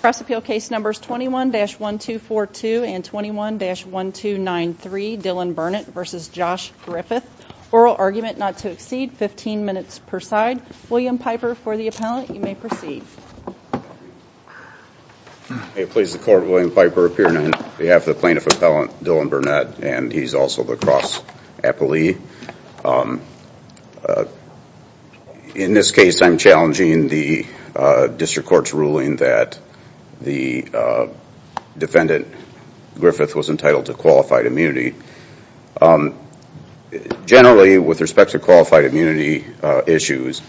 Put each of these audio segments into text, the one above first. Press appeal case numbers 21-1242 and 21-1293, Dillon Burnett v. Josh Griffith. Oral argument not to exceed 15 minutes per side. William Piper for the appellant, you may proceed. May it please the court, William Piper appearing on behalf of the plaintiff appellant Dillon Burnett and he's also the cross appellee. In this case I'm challenging the district court's ruling that the defendant Griffith was entitled to qualified immunity. Generally with respect to qualified immunity issues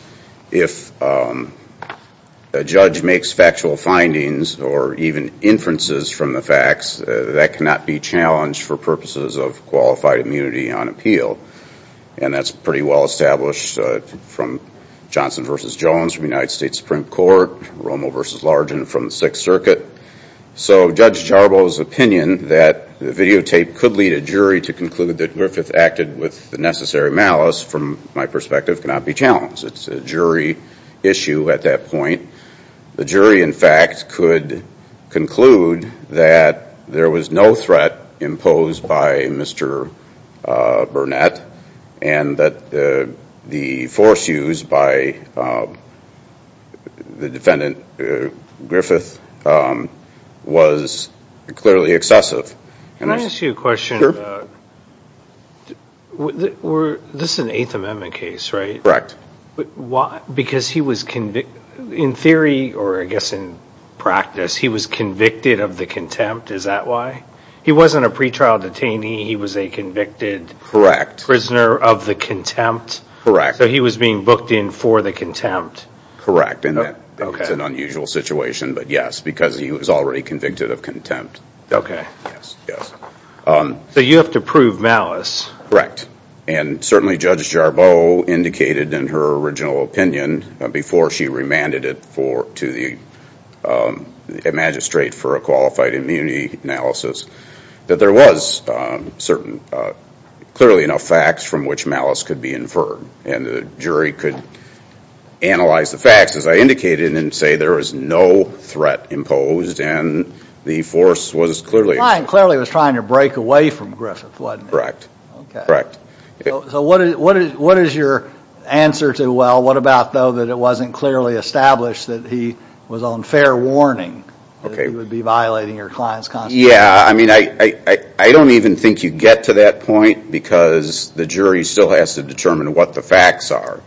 if a judge makes factual findings or even inferences from the facts that cannot be challenged for purposes of qualified immunity on appeal. And that's pretty well established from Johnson v. Jones from the United States Supreme Court, Romo v. Largin from the Sixth Circuit. So Judge Jarbo's opinion that the videotape could lead a jury to conclude that Griffith acted with the necessary malice from my perspective cannot be challenged. It's a jury issue at that point. The jury in fact could conclude that there was no threat imposed by Mr. Burnett and that the force used by the defendant Griffith was clearly excessive. Can I ask you a question? This is an Eighth Amendment case right? Correct. But why because he was convicted of the contempt is that why? He wasn't a pretrial detainee he was a convicted prisoner of the contempt? Correct. So he was being booked in for the contempt? Correct. It's an unusual situation but yes because he was already convicted of contempt. Okay. So you have to prove malice? Correct. And certainly Judge Jarbo indicated in her original opinion before she remanded it to the magistrate for a qualified immunity analysis that there was certain clearly enough facts from which malice could be inferred and the jury could analyze the facts as I indicated and say there was no threat imposed and the force was clearly... The client clearly was trying to break away from Griffith wasn't it? Correct. So what is your answer to well what about though that it wasn't clearly established that he was on fair warning? Okay. He would be violating your client's constitution? Yeah I mean I I don't even think you get to that point because the jury still has to determine what the facts are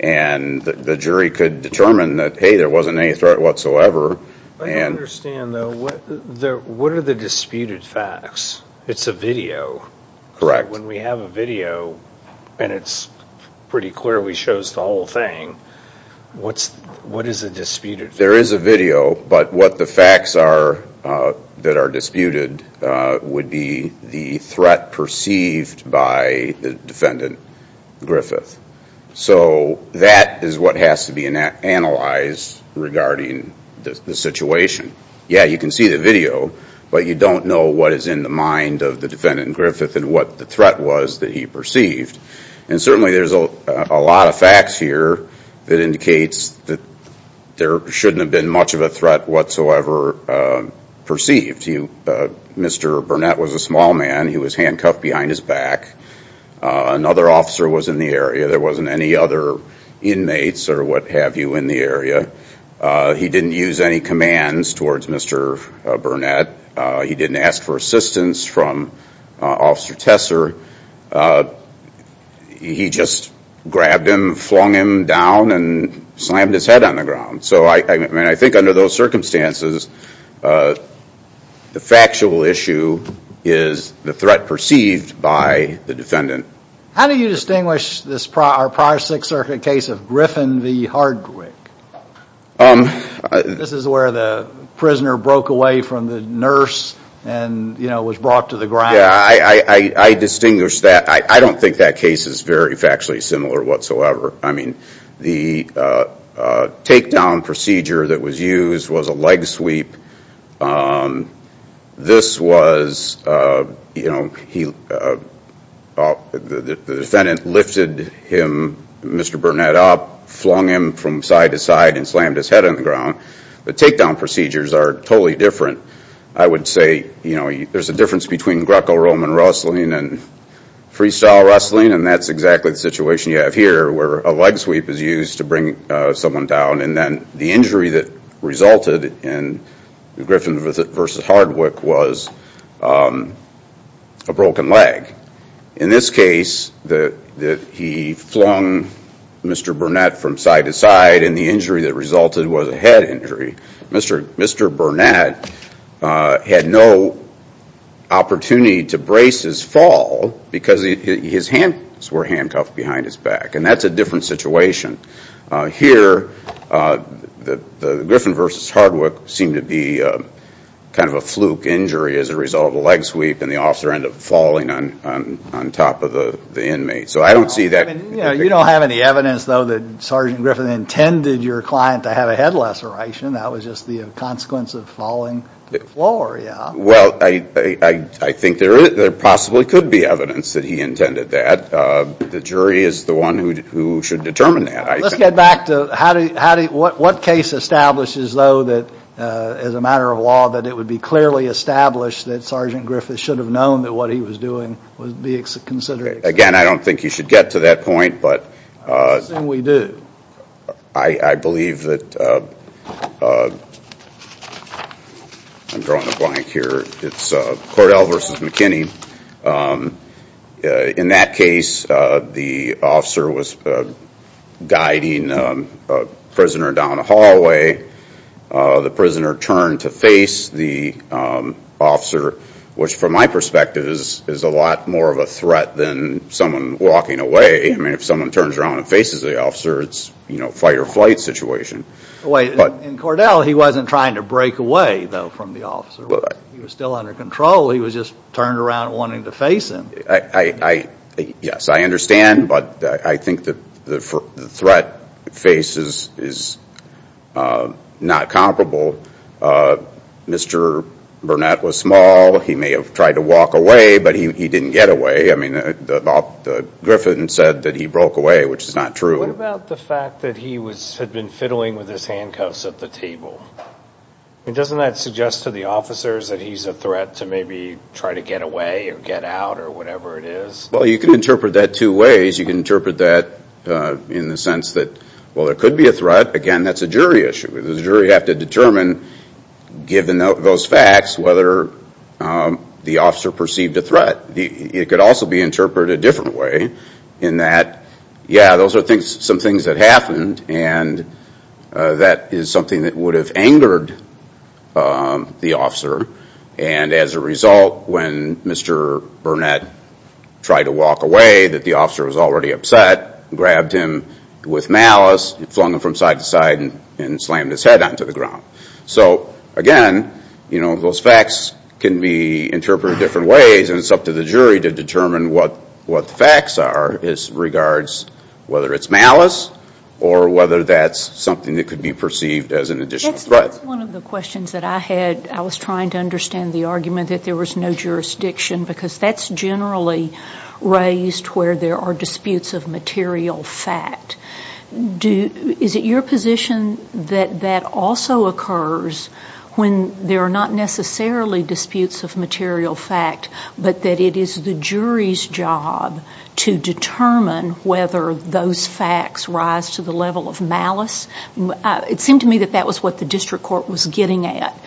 and the jury could determine that hey there wasn't any threat whatsoever. I don't understand though what are the disputed facts? It's a video. Correct. When we have a video and it's pretty clear we chose the whole thing what's what is the disputed? There is a video but what the facts are that are disputed would be the threat perceived by the defendant Griffith. So that is what has to be analyzed regarding the situation. Yeah you can see the video but you don't know what is in the mind of the defendant Griffith and what the threat was that he perceived and certainly there's a lot of facts here that indicates that there shouldn't have been much of a threat whatsoever perceived. Mr. Burnett was a small man he was handcuffed behind his back. Another officer was in the area there wasn't any other inmates or what have you in the area. He didn't use any commands towards Mr. Burnett. He didn't ask for assistance from Officer Tesser. He just grabbed him flung him down and slammed his head on the ground. So I mean I think under those circumstances the factual issue is the threat perceived by the defendant. How do you distinguish this prior Sixth Circuit case of Griffin v. Hardwick? This is where the was brought to the ground. Yeah I distinguish that I don't think that case is very factually similar whatsoever. I mean the takedown procedure that was used was a leg sweep. This was you know he the defendant lifted him Mr. Burnett up flung him from side to side and slammed his head on the ground. The there's a difference between Greco-Roman wrestling and freestyle wrestling and that's exactly the situation you have here where a leg sweep is used to bring someone down and then the injury that resulted in the Griffin v. Hardwick was a broken leg. In this case that he flung Mr. Burnett from side to side and the injury that resulted was a head injury. Mr. Burnett had no opportunity to brace his fall because his hands were handcuffed behind his back and that's a different situation. Here the Griffin v. Hardwick seemed to be kind of a fluke injury as a result of a leg sweep and the officer ended up falling on top of the inmate. So I don't see that. You don't have any Griffin intended your client to have a head laceration that was just the consequence of falling to the floor. Well I think there possibly could be evidence that he intended that. The jury is the one who should determine that. Let's get back to what case establishes though that as a matter of law that it would be clearly established that Sergeant Griffith should have known that what he was doing would be considered. Again I don't think you should get to that point but I believe that I'm drawing a blank here it's Cordell v. McKinney. In that case the officer was guiding a prisoner down a hallway. The prisoner turned to face the officer which from my perspective is a lot more of a threat than someone walking away. I mean if someone turns around and faces the officer it's you know fight-or-flight situation. In Cordell he wasn't trying to break away though from the officer. He was still under control he was just turned around wanting to face him. Yes I understand but I think that the threat faces is not comparable. Mr. Burnett was small he may have tried to walk away but he didn't get away. I mean Griffith said that he broke away which is not true. What about the fact that he had been fiddling with his handcuffs at the table? Doesn't that suggest to the officers that he's a threat to maybe try to get away or get out or whatever it is? Well you can interpret that two ways. You can interpret that in the sense that well there could be a threat again that's a jury issue. The jury have to determine given those facts whether the officer perceived a threat. It could also be interpreted a different way in that yeah those are things some things that happened and that is something that would have angered the officer and as a result when Mr. Burnett tried to walk away that the officer was already upset grabbed him with malice flung him from side to side and slammed his head onto the ground. So again you know those facts can be interpreted different ways and it's up to the jury to determine what what the facts are is regards whether it's malice or whether that's something that could be perceived as an additional threat. That's one of the questions that I had I was trying to understand the argument that there was no jurisdiction because that's generally raised where there are disputes of material fact. Is it your position that that also occurs when there are not necessarily disputes of material fact but that it is the jury's job to determine whether those facts rise to the level of malice? It seemed to me that that was what the district court was getting at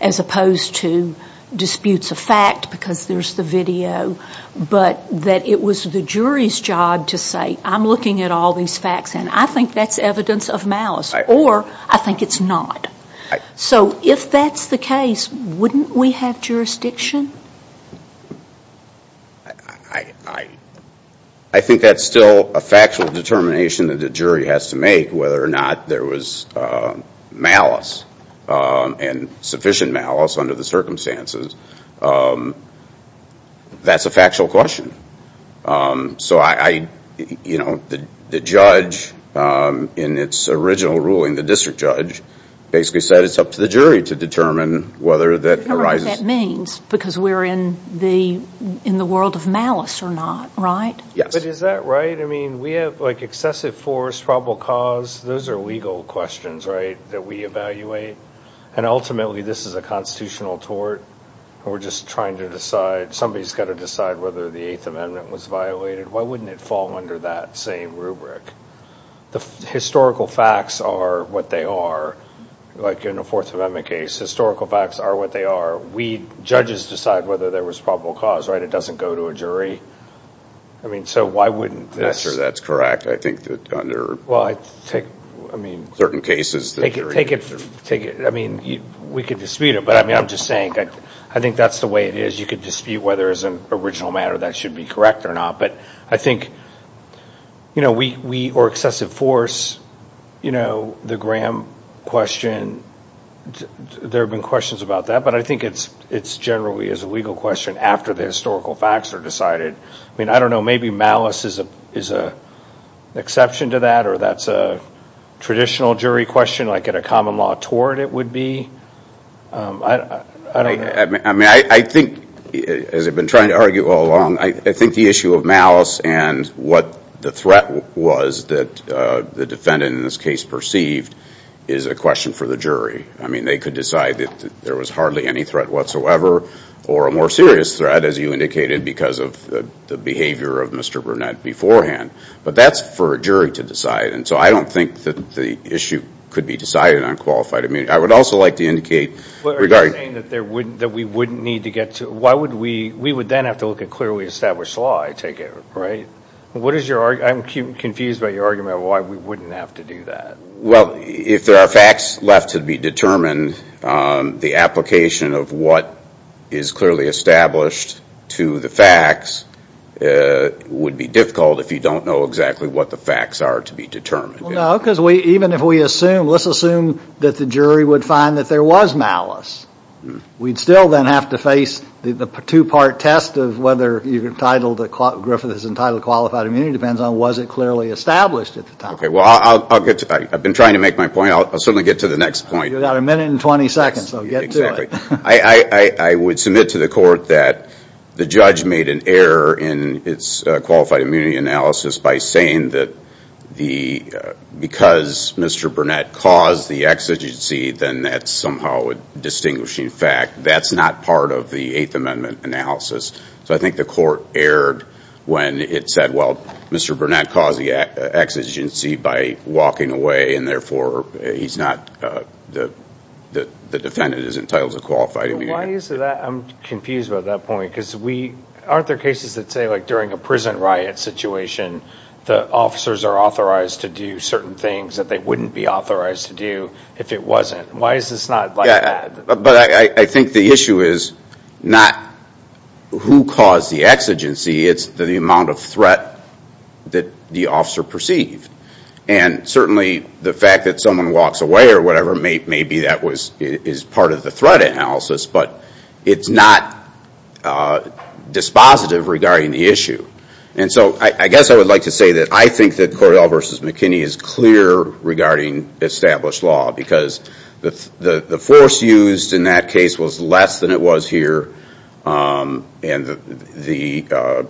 as opposed to disputes of fact because there's the video but that it was the jury's job to say I'm looking at all these facts and I think that's evidence of malice or I think it's not. So if that's the case wouldn't we have jurisdiction? I think that's still a factual determination that the jury has to make whether or not there was malice and sufficient malice under the circumstances. That's a factual question. So I you know the judge in its original ruling the district judge basically said it's up to the jury to determine whether that arises. I don't know what that means because we're in the in the world of malice or not right? Yes. But is that right I mean we have like excessive force probable cause those are legal questions right that we evaluate and ultimately this is a constitutional tort and we're just trying to decide somebody's got to decide whether the Eighth Amendment was violated why wouldn't it fall under that same rubric? The historical facts are what they are like in a Fourth Amendment case historical facts are what they are we judges decide whether there was probable cause right it doesn't go to a jury I think that under well I take I mean certain cases take it take it take it I mean you we could dispute it but I mean I'm just saying I think that's the way it is you could dispute whether as an original matter that should be correct or not but I think you know we or excessive force you know the Graham question there have been questions about that but I think it's it's generally as a legal question after the historical facts are decided I mean I don't know maybe malice is a is a exception to that or that's a traditional jury question like at a common law tort it would be I mean I think as I've been trying to argue all along I think the issue of malice and what the threat was that the defendant in this case perceived is a question for the jury I mean they could decide that there was hardly any threat whatsoever or a more of mr. Burnett beforehand but that's for a jury to decide and so I don't think that the issue could be decided on qualified I mean I would also like to indicate regarding that there wouldn't that we wouldn't need to get to why would we we would then have to look at clearly established law I take it right what is your I'm confused by your argument why we wouldn't have to do that well if there are facts left to be determined the application of what is would be difficult if you don't know exactly what the facts are to be determined no because we even if we assume let's assume that the jury would find that there was malice we'd still then have to face the two-part test of whether you've entitled that caught Griffith is entitled qualified immunity depends on was it clearly established at the time okay well I'll get to I've been trying to make my point I'll certainly get to the next point you got a minute and 20 seconds I would submit to the court that the judge made an error in its qualified immunity analysis by saying that the because mr. Burnett caused the exigency then that's somehow a distinguishing fact that's not part of the Eighth Amendment analysis so I think the court erred when it said well mr. Burnett caused the exigency by walking away and therefore he's not the the defendant is entitled to qualified I'm confused about that point because we aren't there cases that say like during a prison riot situation the officers are authorized to do certain things that they wouldn't be authorized to do if it wasn't why is this not bad but I think the issue is not who caused the exigency it's the amount of threat that the officer perceived and certainly the fact that someone walks away or whatever maybe that was is part of the threat analysis but it's not dispositive regarding the issue and so I guess I would like to say that I think that Cordell versus McKinney is clear regarding established law because the the force used in that case was less than it was here and the the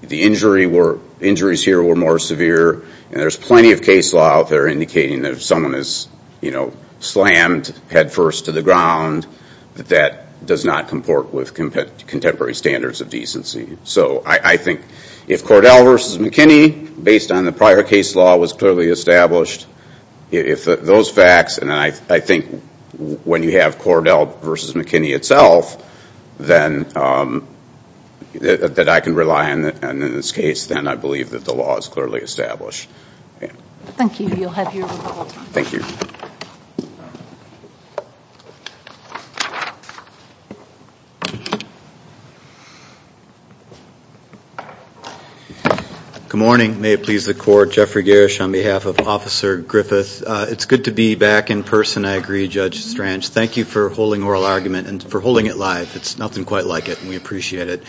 the injury were injuries here were more severe and there's plenty of case law out there indicating that if someone is you know that does not comport with contemporary standards of decency so I think if Cordell versus McKinney based on the prior case law was clearly established if those facts and I think when you have Cordell versus McKinney itself then that I can rely on that and in this case then I believe that the law is clearly established. Thank you, you'll have your rebuttal. Thank you. Good morning may it please the court Jeffrey Gersh on behalf of Officer Griffith it's good to be back in person I agree Judge Strange thank you for holding oral argument and for holding it live it's nothing quite like it and we appreciate it.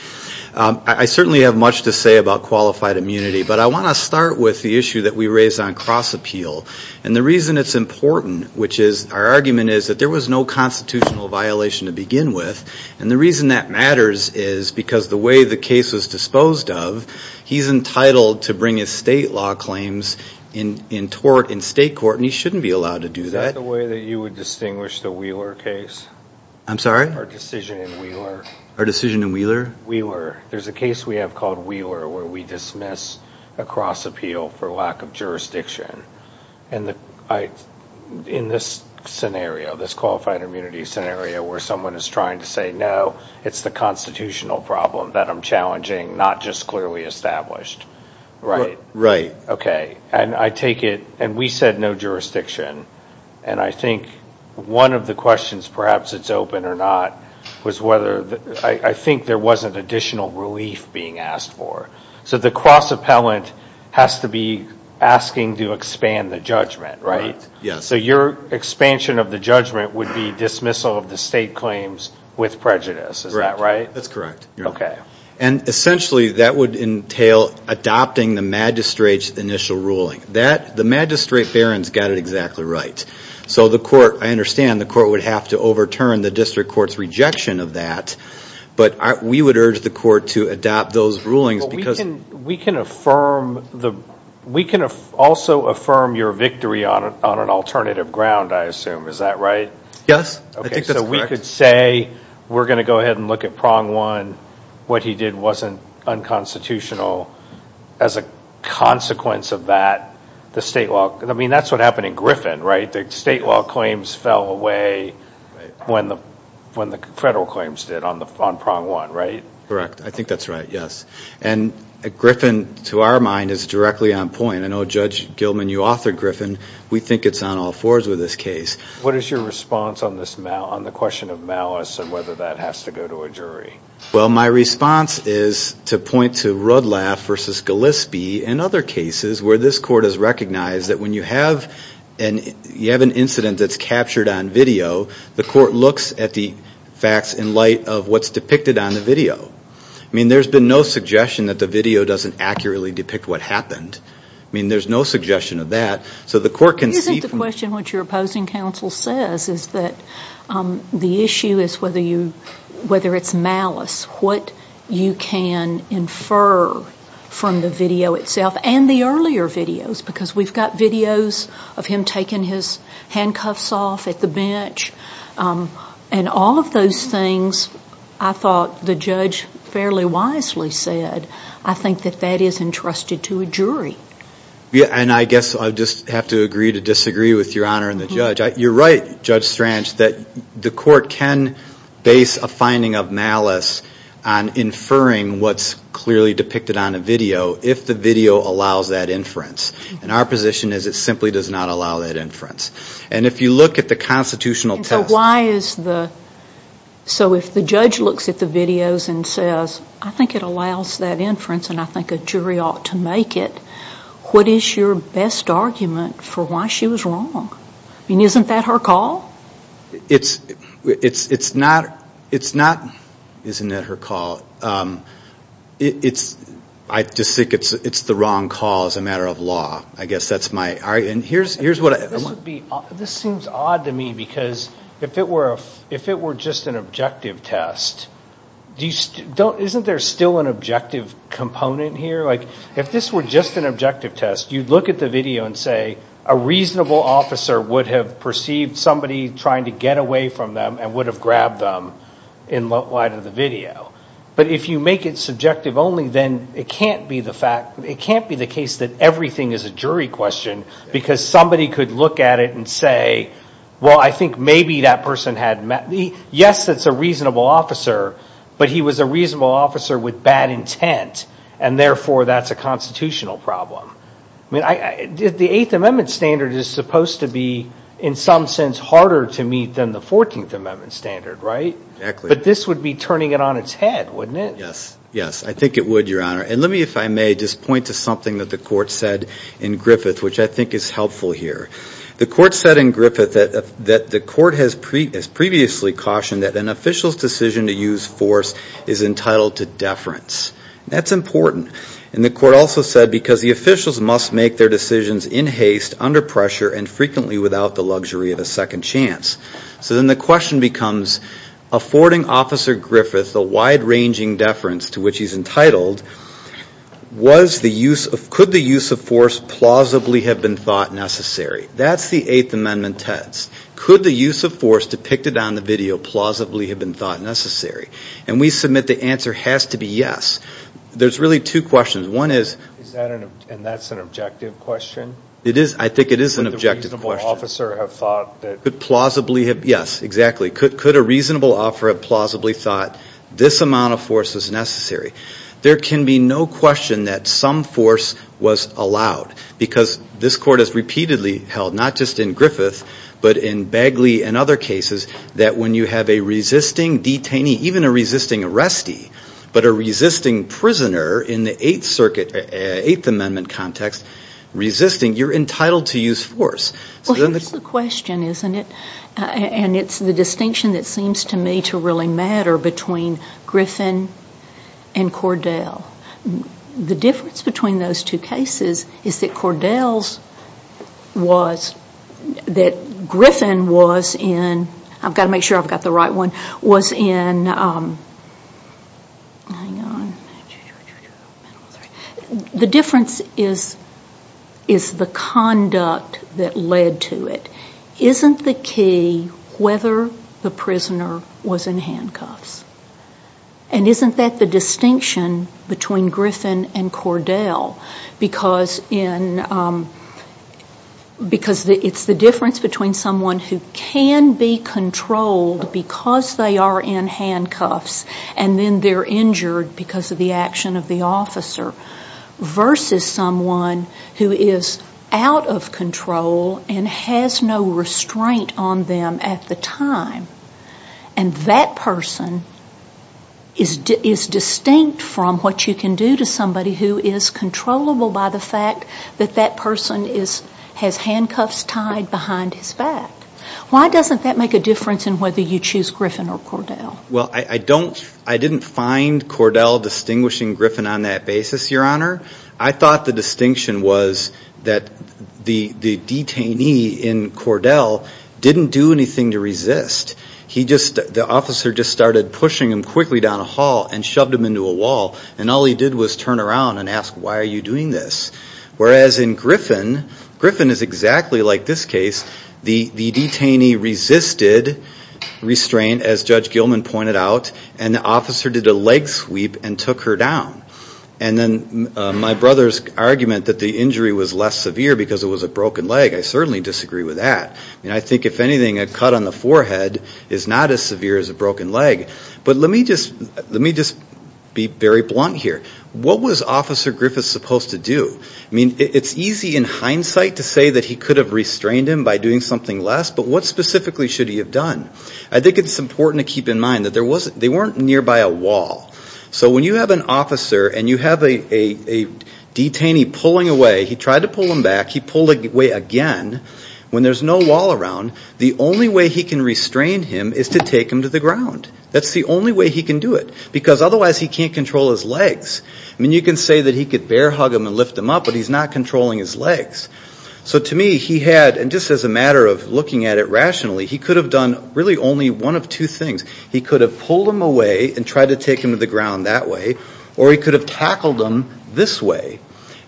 I certainly have much to say about qualified immunity but I want to start with the issue that we raised on cross-appeal and the reason it's important which is our argument is that there was no constitutional violation to begin with and the reason that matters is because the way the case was disposed of he's entitled to bring his state law claims in in tort in state court and he shouldn't be allowed to do that. Is that the way that you would distinguish the Wheeler case? I'm sorry? Our decision in Wheeler. Our decision in Wheeler? Wheeler. There's a case we have called Wheeler where we dismiss a cross-appeal for lack of jurisdiction and the I in this scenario this qualified immunity scenario where someone is trying to say no it's the constitutional problem that I'm challenging not just clearly established. Right. Right. Okay and I take it and we said no jurisdiction and I think one of the questions perhaps it's open or not was whether I think there wasn't additional relief being asked for so the cross-appellant has to be asking to expand the judgment right? Yes. So your expansion of the judgment would be dismissal of the state claims with prejudice is that right? That's correct. Okay. And essentially that would entail adopting the magistrates initial ruling that the magistrate Barron's got it exactly right so the court I understand the court would have to overturn the of that but we would urge the court to adopt those rulings because we can affirm the we can also affirm your victory on it on an alternative ground I assume is that right? Yes. Okay so we could say we're gonna go ahead and look at prong one what he did wasn't unconstitutional as a consequence of that the state law I mean that's what happened in Griffin right the state law claims fell away when the when the federal claims did on the on prong one right? Correct I think that's right yes and a Griffin to our mind is directly on point I know Judge Gilman you author Griffin we think it's on all fours with this case. What is your response on this now on the question of malice and whether that has to go to a jury? Well my response is to point to Rudlaff versus Gillespie and other cases where this court has recognized that when you have an incident that's captured on video the court looks at the facts in light of what's depicted on the video I mean there's been no suggestion that the video doesn't accurately depict what happened I mean there's no suggestion of that so the court can see the question what your opposing counsel says is that the issue is whether you whether it's malice what you can infer from the video itself and the earlier videos because we've got videos of him taking his handcuffs off at the bench and all of those things I thought the judge fairly wisely said I think that that is entrusted to a jury. Yeah and I guess I just have to agree to disagree with your honor and the judge you're right Judge Strange that the court can base a finding of malice on inferring what's clearly depicted on a video if the video allows that inference and our position is it simply does not allow that inference and if you look at the constitutional test. So why is the so if the judge looks at the videos and says I think it allows that inference and I think a jury ought to make it what is your best argument for why she was wrong I mean isn't that her call? It's it's I just think it's it's the wrong call as a matter of law I guess that's my and here's here's what. This seems odd to me because if it were if it were just an objective test do you still don't isn't there still an objective component here like if this were just an objective test you'd look at the video and say a reasonable officer would have perceived somebody trying to get away from them and would have grabbed them in light of the video but if you make it subjective only then it can't be the fact it can't be the case that everything is a jury question because somebody could look at it and say well I think maybe that person had met me yes that's a reasonable officer but he was a reasonable officer with bad intent and therefore that's a constitutional problem. I mean I did the Eighth Amendment standard is supposed to be in some sense harder to meet than the Fourteenth Amendment standard right? But this would be turning it on its head wouldn't it? Yes yes I think it would your honor and let me if I may just point to something that the court said in Griffith which I think is helpful here. The court said in Griffith that that the court has pre as previously cautioned that an official's decision to use force is entitled to deference. That's important and the court also said because the officials must make their decisions in haste under pressure and frequently without the luxury of a second chance. So then the question becomes affording Officer Griffith a wide-ranging deference to which he's entitled was the use of could the use of force plausibly have been thought necessary? That's the Eighth Amendment text. Could the use of force depicted on the video plausibly have been thought necessary? And we submit the answer has to be yes. There's really two questions one is and that's an objective question it is I think it is an objective officer have thought that could plausibly have yes exactly could a reasonable offer of plausibly thought this amount of force is necessary? There can be no question that some force was allowed because this court has repeatedly held not just in Griffith but in Bagley and other cases that when you have a resisting detainee even a resisting arrestee but a resisting prisoner in the Eighth Circuit Eighth Amendment context resisting you're entitled to use force. Well here's the question isn't it and it's the difference between those two cases is that Cordell's was that Griffin was in I've got to make sure I've got the right one was in the difference is the conduct that led to it isn't the key whether the prisoner was in handcuffs and isn't that the distinction between Griffin and Cordell because it's the difference between someone who can be controlled because they are in handcuffs and then they're injured because of the action of the officer versus someone who is out of control and has no restraint on them at the time and that person is distinct from what you can do to somebody who is controllable by the fact that that person is has handcuffs tied behind his back. Why doesn't that make a difference in whether you choose Griffin or Cordell? Well I don't I didn't find Cordell distinguishing Griffin on that basis your honor I thought the distinction was that the detainee in Cordell didn't do anything to resist he just the officer just started pushing him quickly down a hall and shoved him into a wall and all he did was turn around and ask why are you doing this whereas in Griffin Griffin is exactly like this case the detainee resisted restraint as Judge Gilman pointed out and the officer did a leg sweep and took her down and then my brother's argument that the injury was less severe because it was a broken leg I certainly disagree with that and I think if anything a cut on the forehead is not as severe as a broken leg but let me just let me just be very blunt here what was officer Griffith supposed to do I mean it's easy in hindsight to say that he could have restrained him by doing something less but what specifically should he have done I think it's important to keep in mind that there wasn't they weren't nearby a wall so when you have an officer and you have a detainee pulling away he tried to pull him back he pulled away again when there's no wall around the only way he can restrain him is to take him to the ground that's the only way he can do it because otherwise he can't control his legs I mean you can say that he could bear hug him and lift him up but he's not controlling his legs so to me he had and just as a matter of looking at it rationally he could have done really only one of two things he could have pulled him away and tried to take him to the ground that way or he could have pulled him this way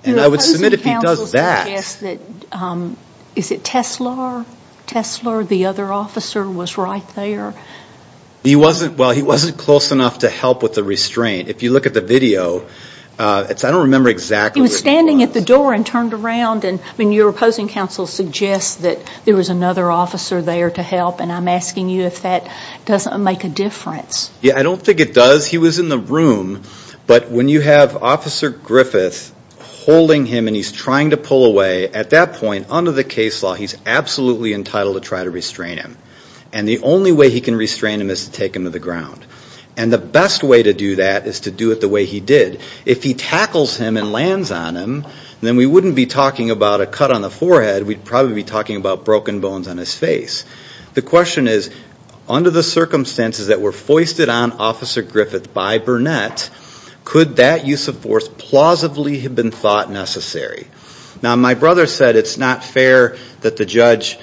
and I would submit if he does that is it Tesla Tesla or the other officer was right there he wasn't well he wasn't close enough to help with the restraint if you look at the video it's I don't remember exactly he was standing at the door and turned around and when you're opposing counsel suggests that there was another officer there to help and I'm asking you if that doesn't make a difference yeah I don't think it does he was in the room but when you have officer Griffith holding him and he's trying to pull away at that point under the case law he's absolutely entitled to try to restrain him and the only way he can restrain him is to take him to the ground and the best way to do that is to do it the way he did if he tackles him and lands on him then we wouldn't be talking about a cut on the forehead we'd probably be talking about broken bones on his face the question is under the circumstances that were could that use of force plausibly have been thought necessary now my brother said it's not fair that the judge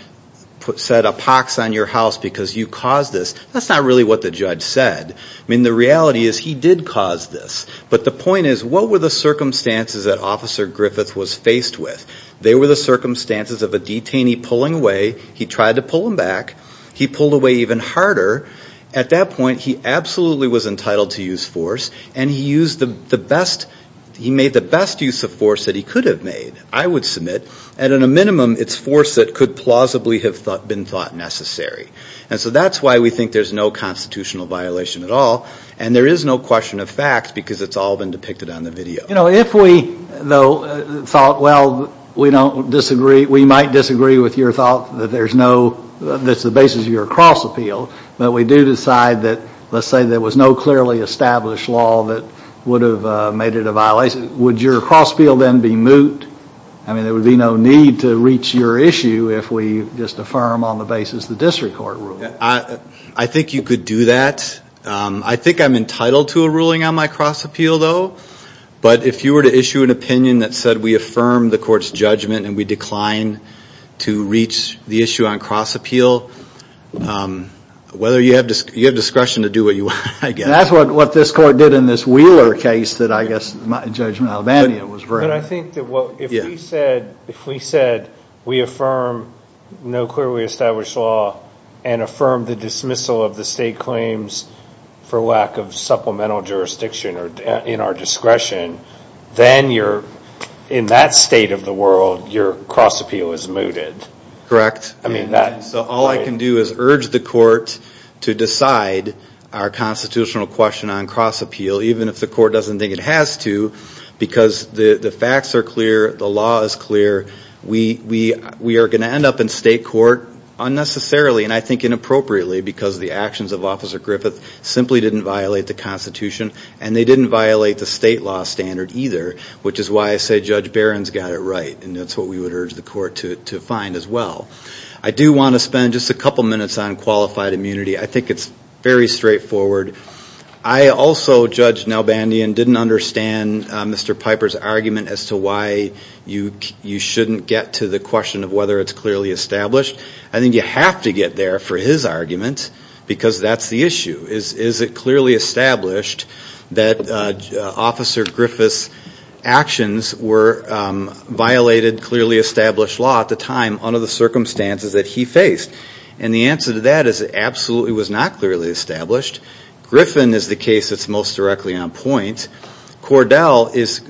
put said a pox on your house because you caused this that's not really what the judge said I mean the reality is he did cause this but the point is what were the circumstances that officer Griffith was faced with they were the circumstances of a detainee pulling away he tried to pull him back he pulled away even harder at that point he absolutely was entitled to use force and he used the best he made the best use of force that he could have made I would submit at a minimum it's force that could plausibly have thought been thought necessary and so that's why we think there's no constitutional violation at all and there is no question of fact because it's all been depicted on the video you know if we though thought well we don't disagree we might disagree with your thought that there's no that's the basis of your cross appeal but we do decide that let's say there was no clearly established law that would have made it a violation would your cross field and be moot I mean it would be no need to reach your issue if we just affirm on the basis the district court I I think you could do that I think I'm entitled to a ruling on my cross appeal though but if you were to issue an opinion that said we affirm the court's judgment and we decline to reach the issue on cross appeal whether you have just give discretion to do what you want I guess that's what what this court did in this Wheeler case that I guess my judgment Albania was very I think that what you said if we said we affirm no clearly established law and affirm the dismissal of the state claims for lack of supplemental jurisdiction or in our discretion then you're in that state of your cross appeal is mooted correct I mean that so all I can do is urge the court to decide our constitutional question on cross appeal even if the court doesn't think it has to because the the facts are clear the law is clear we we we are going to end up in state court unnecessarily and I think inappropriately because the actions of officer Griffith simply didn't violate the Constitution and they didn't violate the state law standard either which is why I say judge Barron's got it right and that's what we would urge the court to find as well I do want to spend just a couple minutes on qualified immunity I think it's very straightforward I also judge now Bandy and didn't understand mr. Piper's argument as to why you you shouldn't get to the question of whether it's clearly established I think you have to get there for his argument because that's the issue is is it clearly established that officer Griffith's actions were violated clearly established law at the time under the circumstances that he faced and the answer to that is absolutely was not clearly established Griffin is the case that's most directly on point Cordell is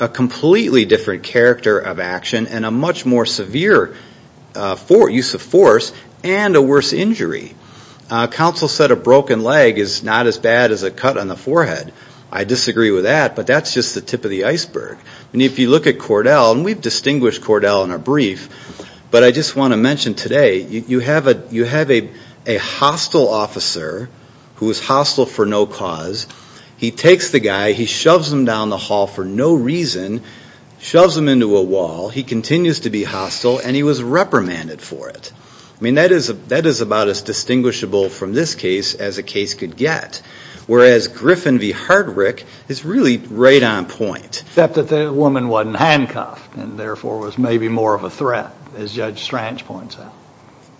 a completely different character of action and a much more severe for use of force and a worse injury counsel said a broken leg is not as bad as a cut on the forehead I disagree with that but that's just the tip of the iceberg and if you look at Cordell and we've distinguished Cordell in a brief but I just want to mention today you have a you have a a hostile officer who is hostile for no cause he takes the guy he shoves him down the hall for no reason shoves him into a wall he continues to be hostile and he was reprimanded for it I mean that is a that is about as distinguishable from this case as a case could get whereas Griffin v Hardwick is really right on point that that the woman wasn't handcuffed and therefore was maybe more of a threat as judge Strange points out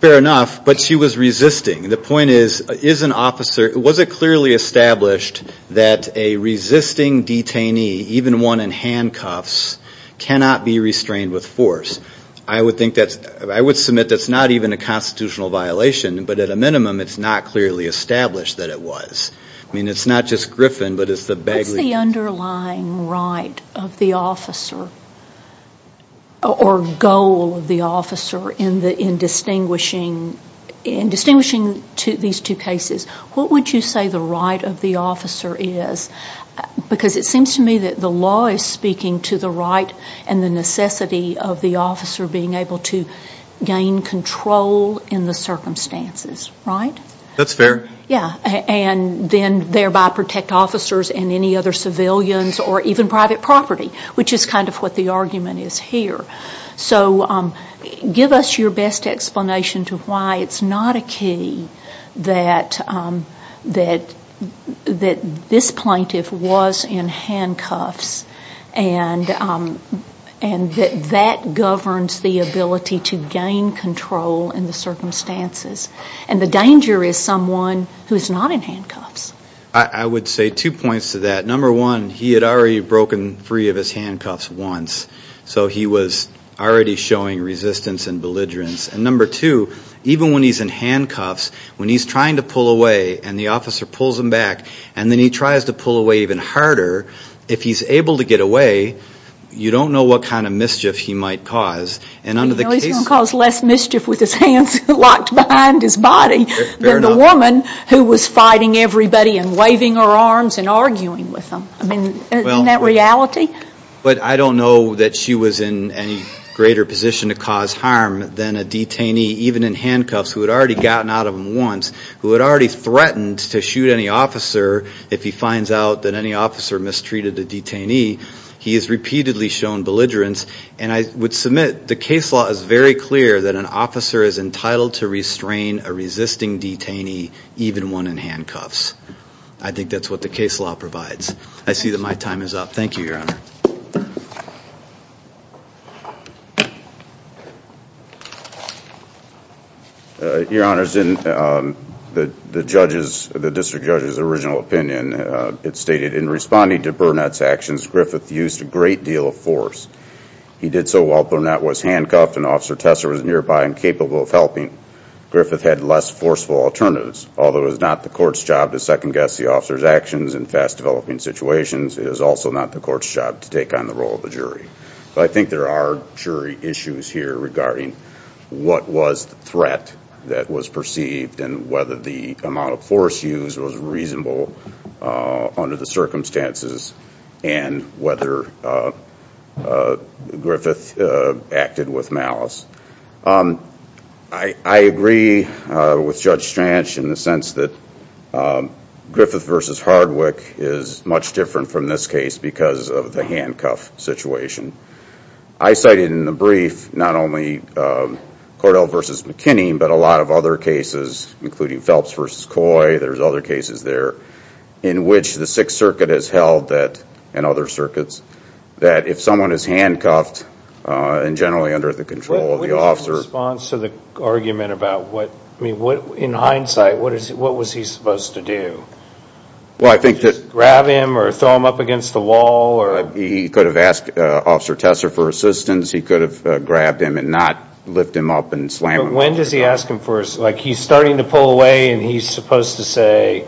fair enough but she was resisting the point is is an officer was it clearly established that a resisting detainee even one in handcuffs cannot be restrained with force I would think that's I would submit that's not even a constitutional violation but at a clearly established that it was I mean it's not just Griffin but it's the bag the underlying right of the officer or goal of the officer in the in distinguishing in distinguishing to these two cases what would you say the right of the officer is because it seems to me that the law is speaking to the right and the necessity of the officer being able to gain control in the circumstances right that's fair yeah and then thereby protect officers and any other civilians or even private property which is kind of what the argument is here so give us your best explanation to why it's not a key that that that this plaintiff was in handcuffs and and that governs the ability to gain control in circumstances and the danger is someone who's not in handcuffs I would say two points to that number one he had already broken free of his handcuffs once so he was already showing resistance and belligerence and number two even when he's in handcuffs when he's trying to pull away and the officer pulls him back and then he tries to pull away even harder if he's able to get away you don't know what kind of mischief he might cause and under the cause less than the woman who was fighting everybody and waving her arms and arguing with them I mean that reality but I don't know that she was in any greater position to cause harm than a detainee even in handcuffs who had already gotten out of him once who had already threatened to shoot any officer if he finds out that any officer mistreated the detainee he is repeatedly shown belligerence and I would submit the case law is very clear that an a resisting detainee even one in handcuffs I think that's what the case law provides I see that my time is up thank you your honor your honors in the the judges the district judge's original opinion it stated in responding to Burnett's actions Griffith used a great deal of force he did so while Burnett was handcuffed and officer Tessa was nearby and capable of helping Griffith had less forceful alternatives although it was not the court's job to second guess the officer's actions in fast developing situations it is also not the court's job to take on the role of the jury I think there are jury issues here regarding what was the threat that was perceived and whether the amount of force used was reasonable under the circumstances and whether Griffith acted with malice I agree with judge Strange in the sense that Griffith versus Hardwick is much different from this case because of the handcuff situation I cited in the brief not only Cordell versus McKinney but a lot of other cases including Phelps versus Coy there's other cases there in which the and generally under the control of the officer response to the argument about what I mean what in hindsight what is it what was he supposed to do well I think that grab him or throw him up against the wall or he could have asked officer Tessa for assistance he could have grabbed him and not lift him up and slam when does he ask him first like he's starting to pull away and he's supposed to say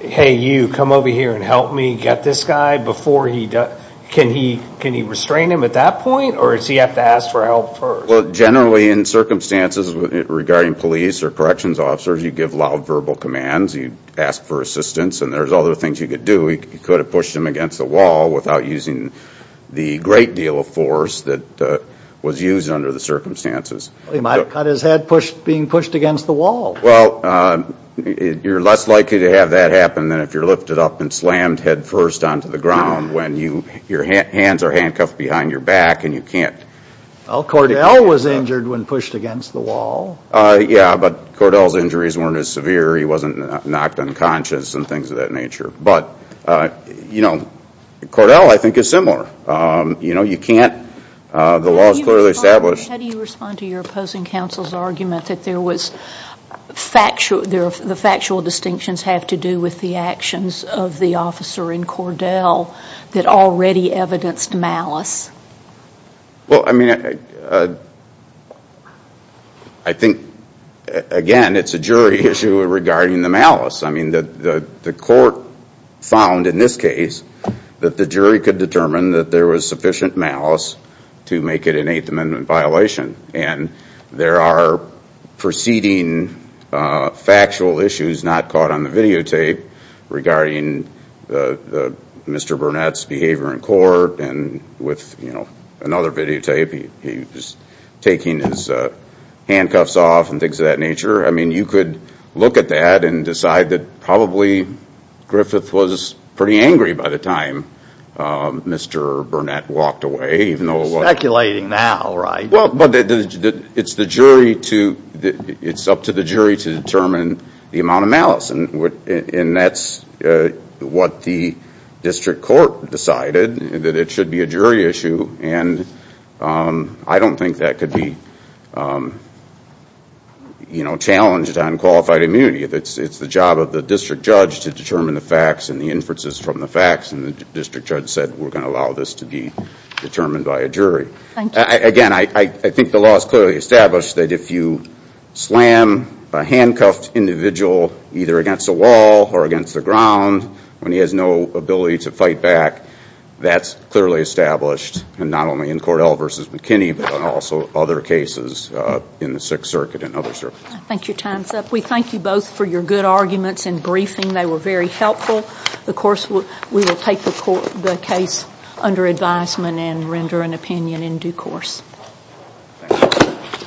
hey you come over here and help me get this guy before he does can he restrain him at that point or is he have to ask for help first well generally in circumstances regarding police or corrections officers you give loud verbal commands you ask for assistance and there's other things you could do he could have pushed him against the wall without using the great deal of force that was used under the circumstances he might have cut his head pushed being pushed against the wall well you're less likely to have that happen then if you're lifted up and slammed headfirst onto the ground when you your hands are handcuffed behind your back and you can't well Cordell was injured when pushed against the wall yeah but Cordell's injuries weren't as severe he wasn't knocked unconscious and things of that nature but you know Cordell I think is similar you know you can't the laws clearly established how do you respond to your opposing counsel's argument that there was factual there the factual distinctions have to do with the actions of the officer in already evidenced malice well I mean I think again it's a jury issue regarding the malice I mean that the court found in this case that the jury could determine that there was sufficient malice to make it an Eighth Amendment violation and there are preceding factual issues not caught on the and with you know another videotape he's taking his handcuffs off and things of that nature I mean you could look at that and decide that probably Griffith was pretty angry by the time mr. Burnett walked away even though we're calculating now right well but it's the jury to it's up to the jury to determine the amount of malice and what in that's what the district court decided that it should be a jury issue and I don't think that could be you know challenged on qualified immunity that's it's the job of the district judge to determine the facts and the inferences from the facts and the district judge said we're going to allow this to be determined by a jury again I think the law is clearly established that if you slam a handcuffed individual either against a wall or against the ground when he has no ability to fight back that's clearly established and not only in Cordell versus McKinney but also other cases in the Sixth Circuit and other circuits. Thank you time's up we thank you both for your good arguments and briefing they were very helpful of course we will take the case under advisement and render an opinion in due course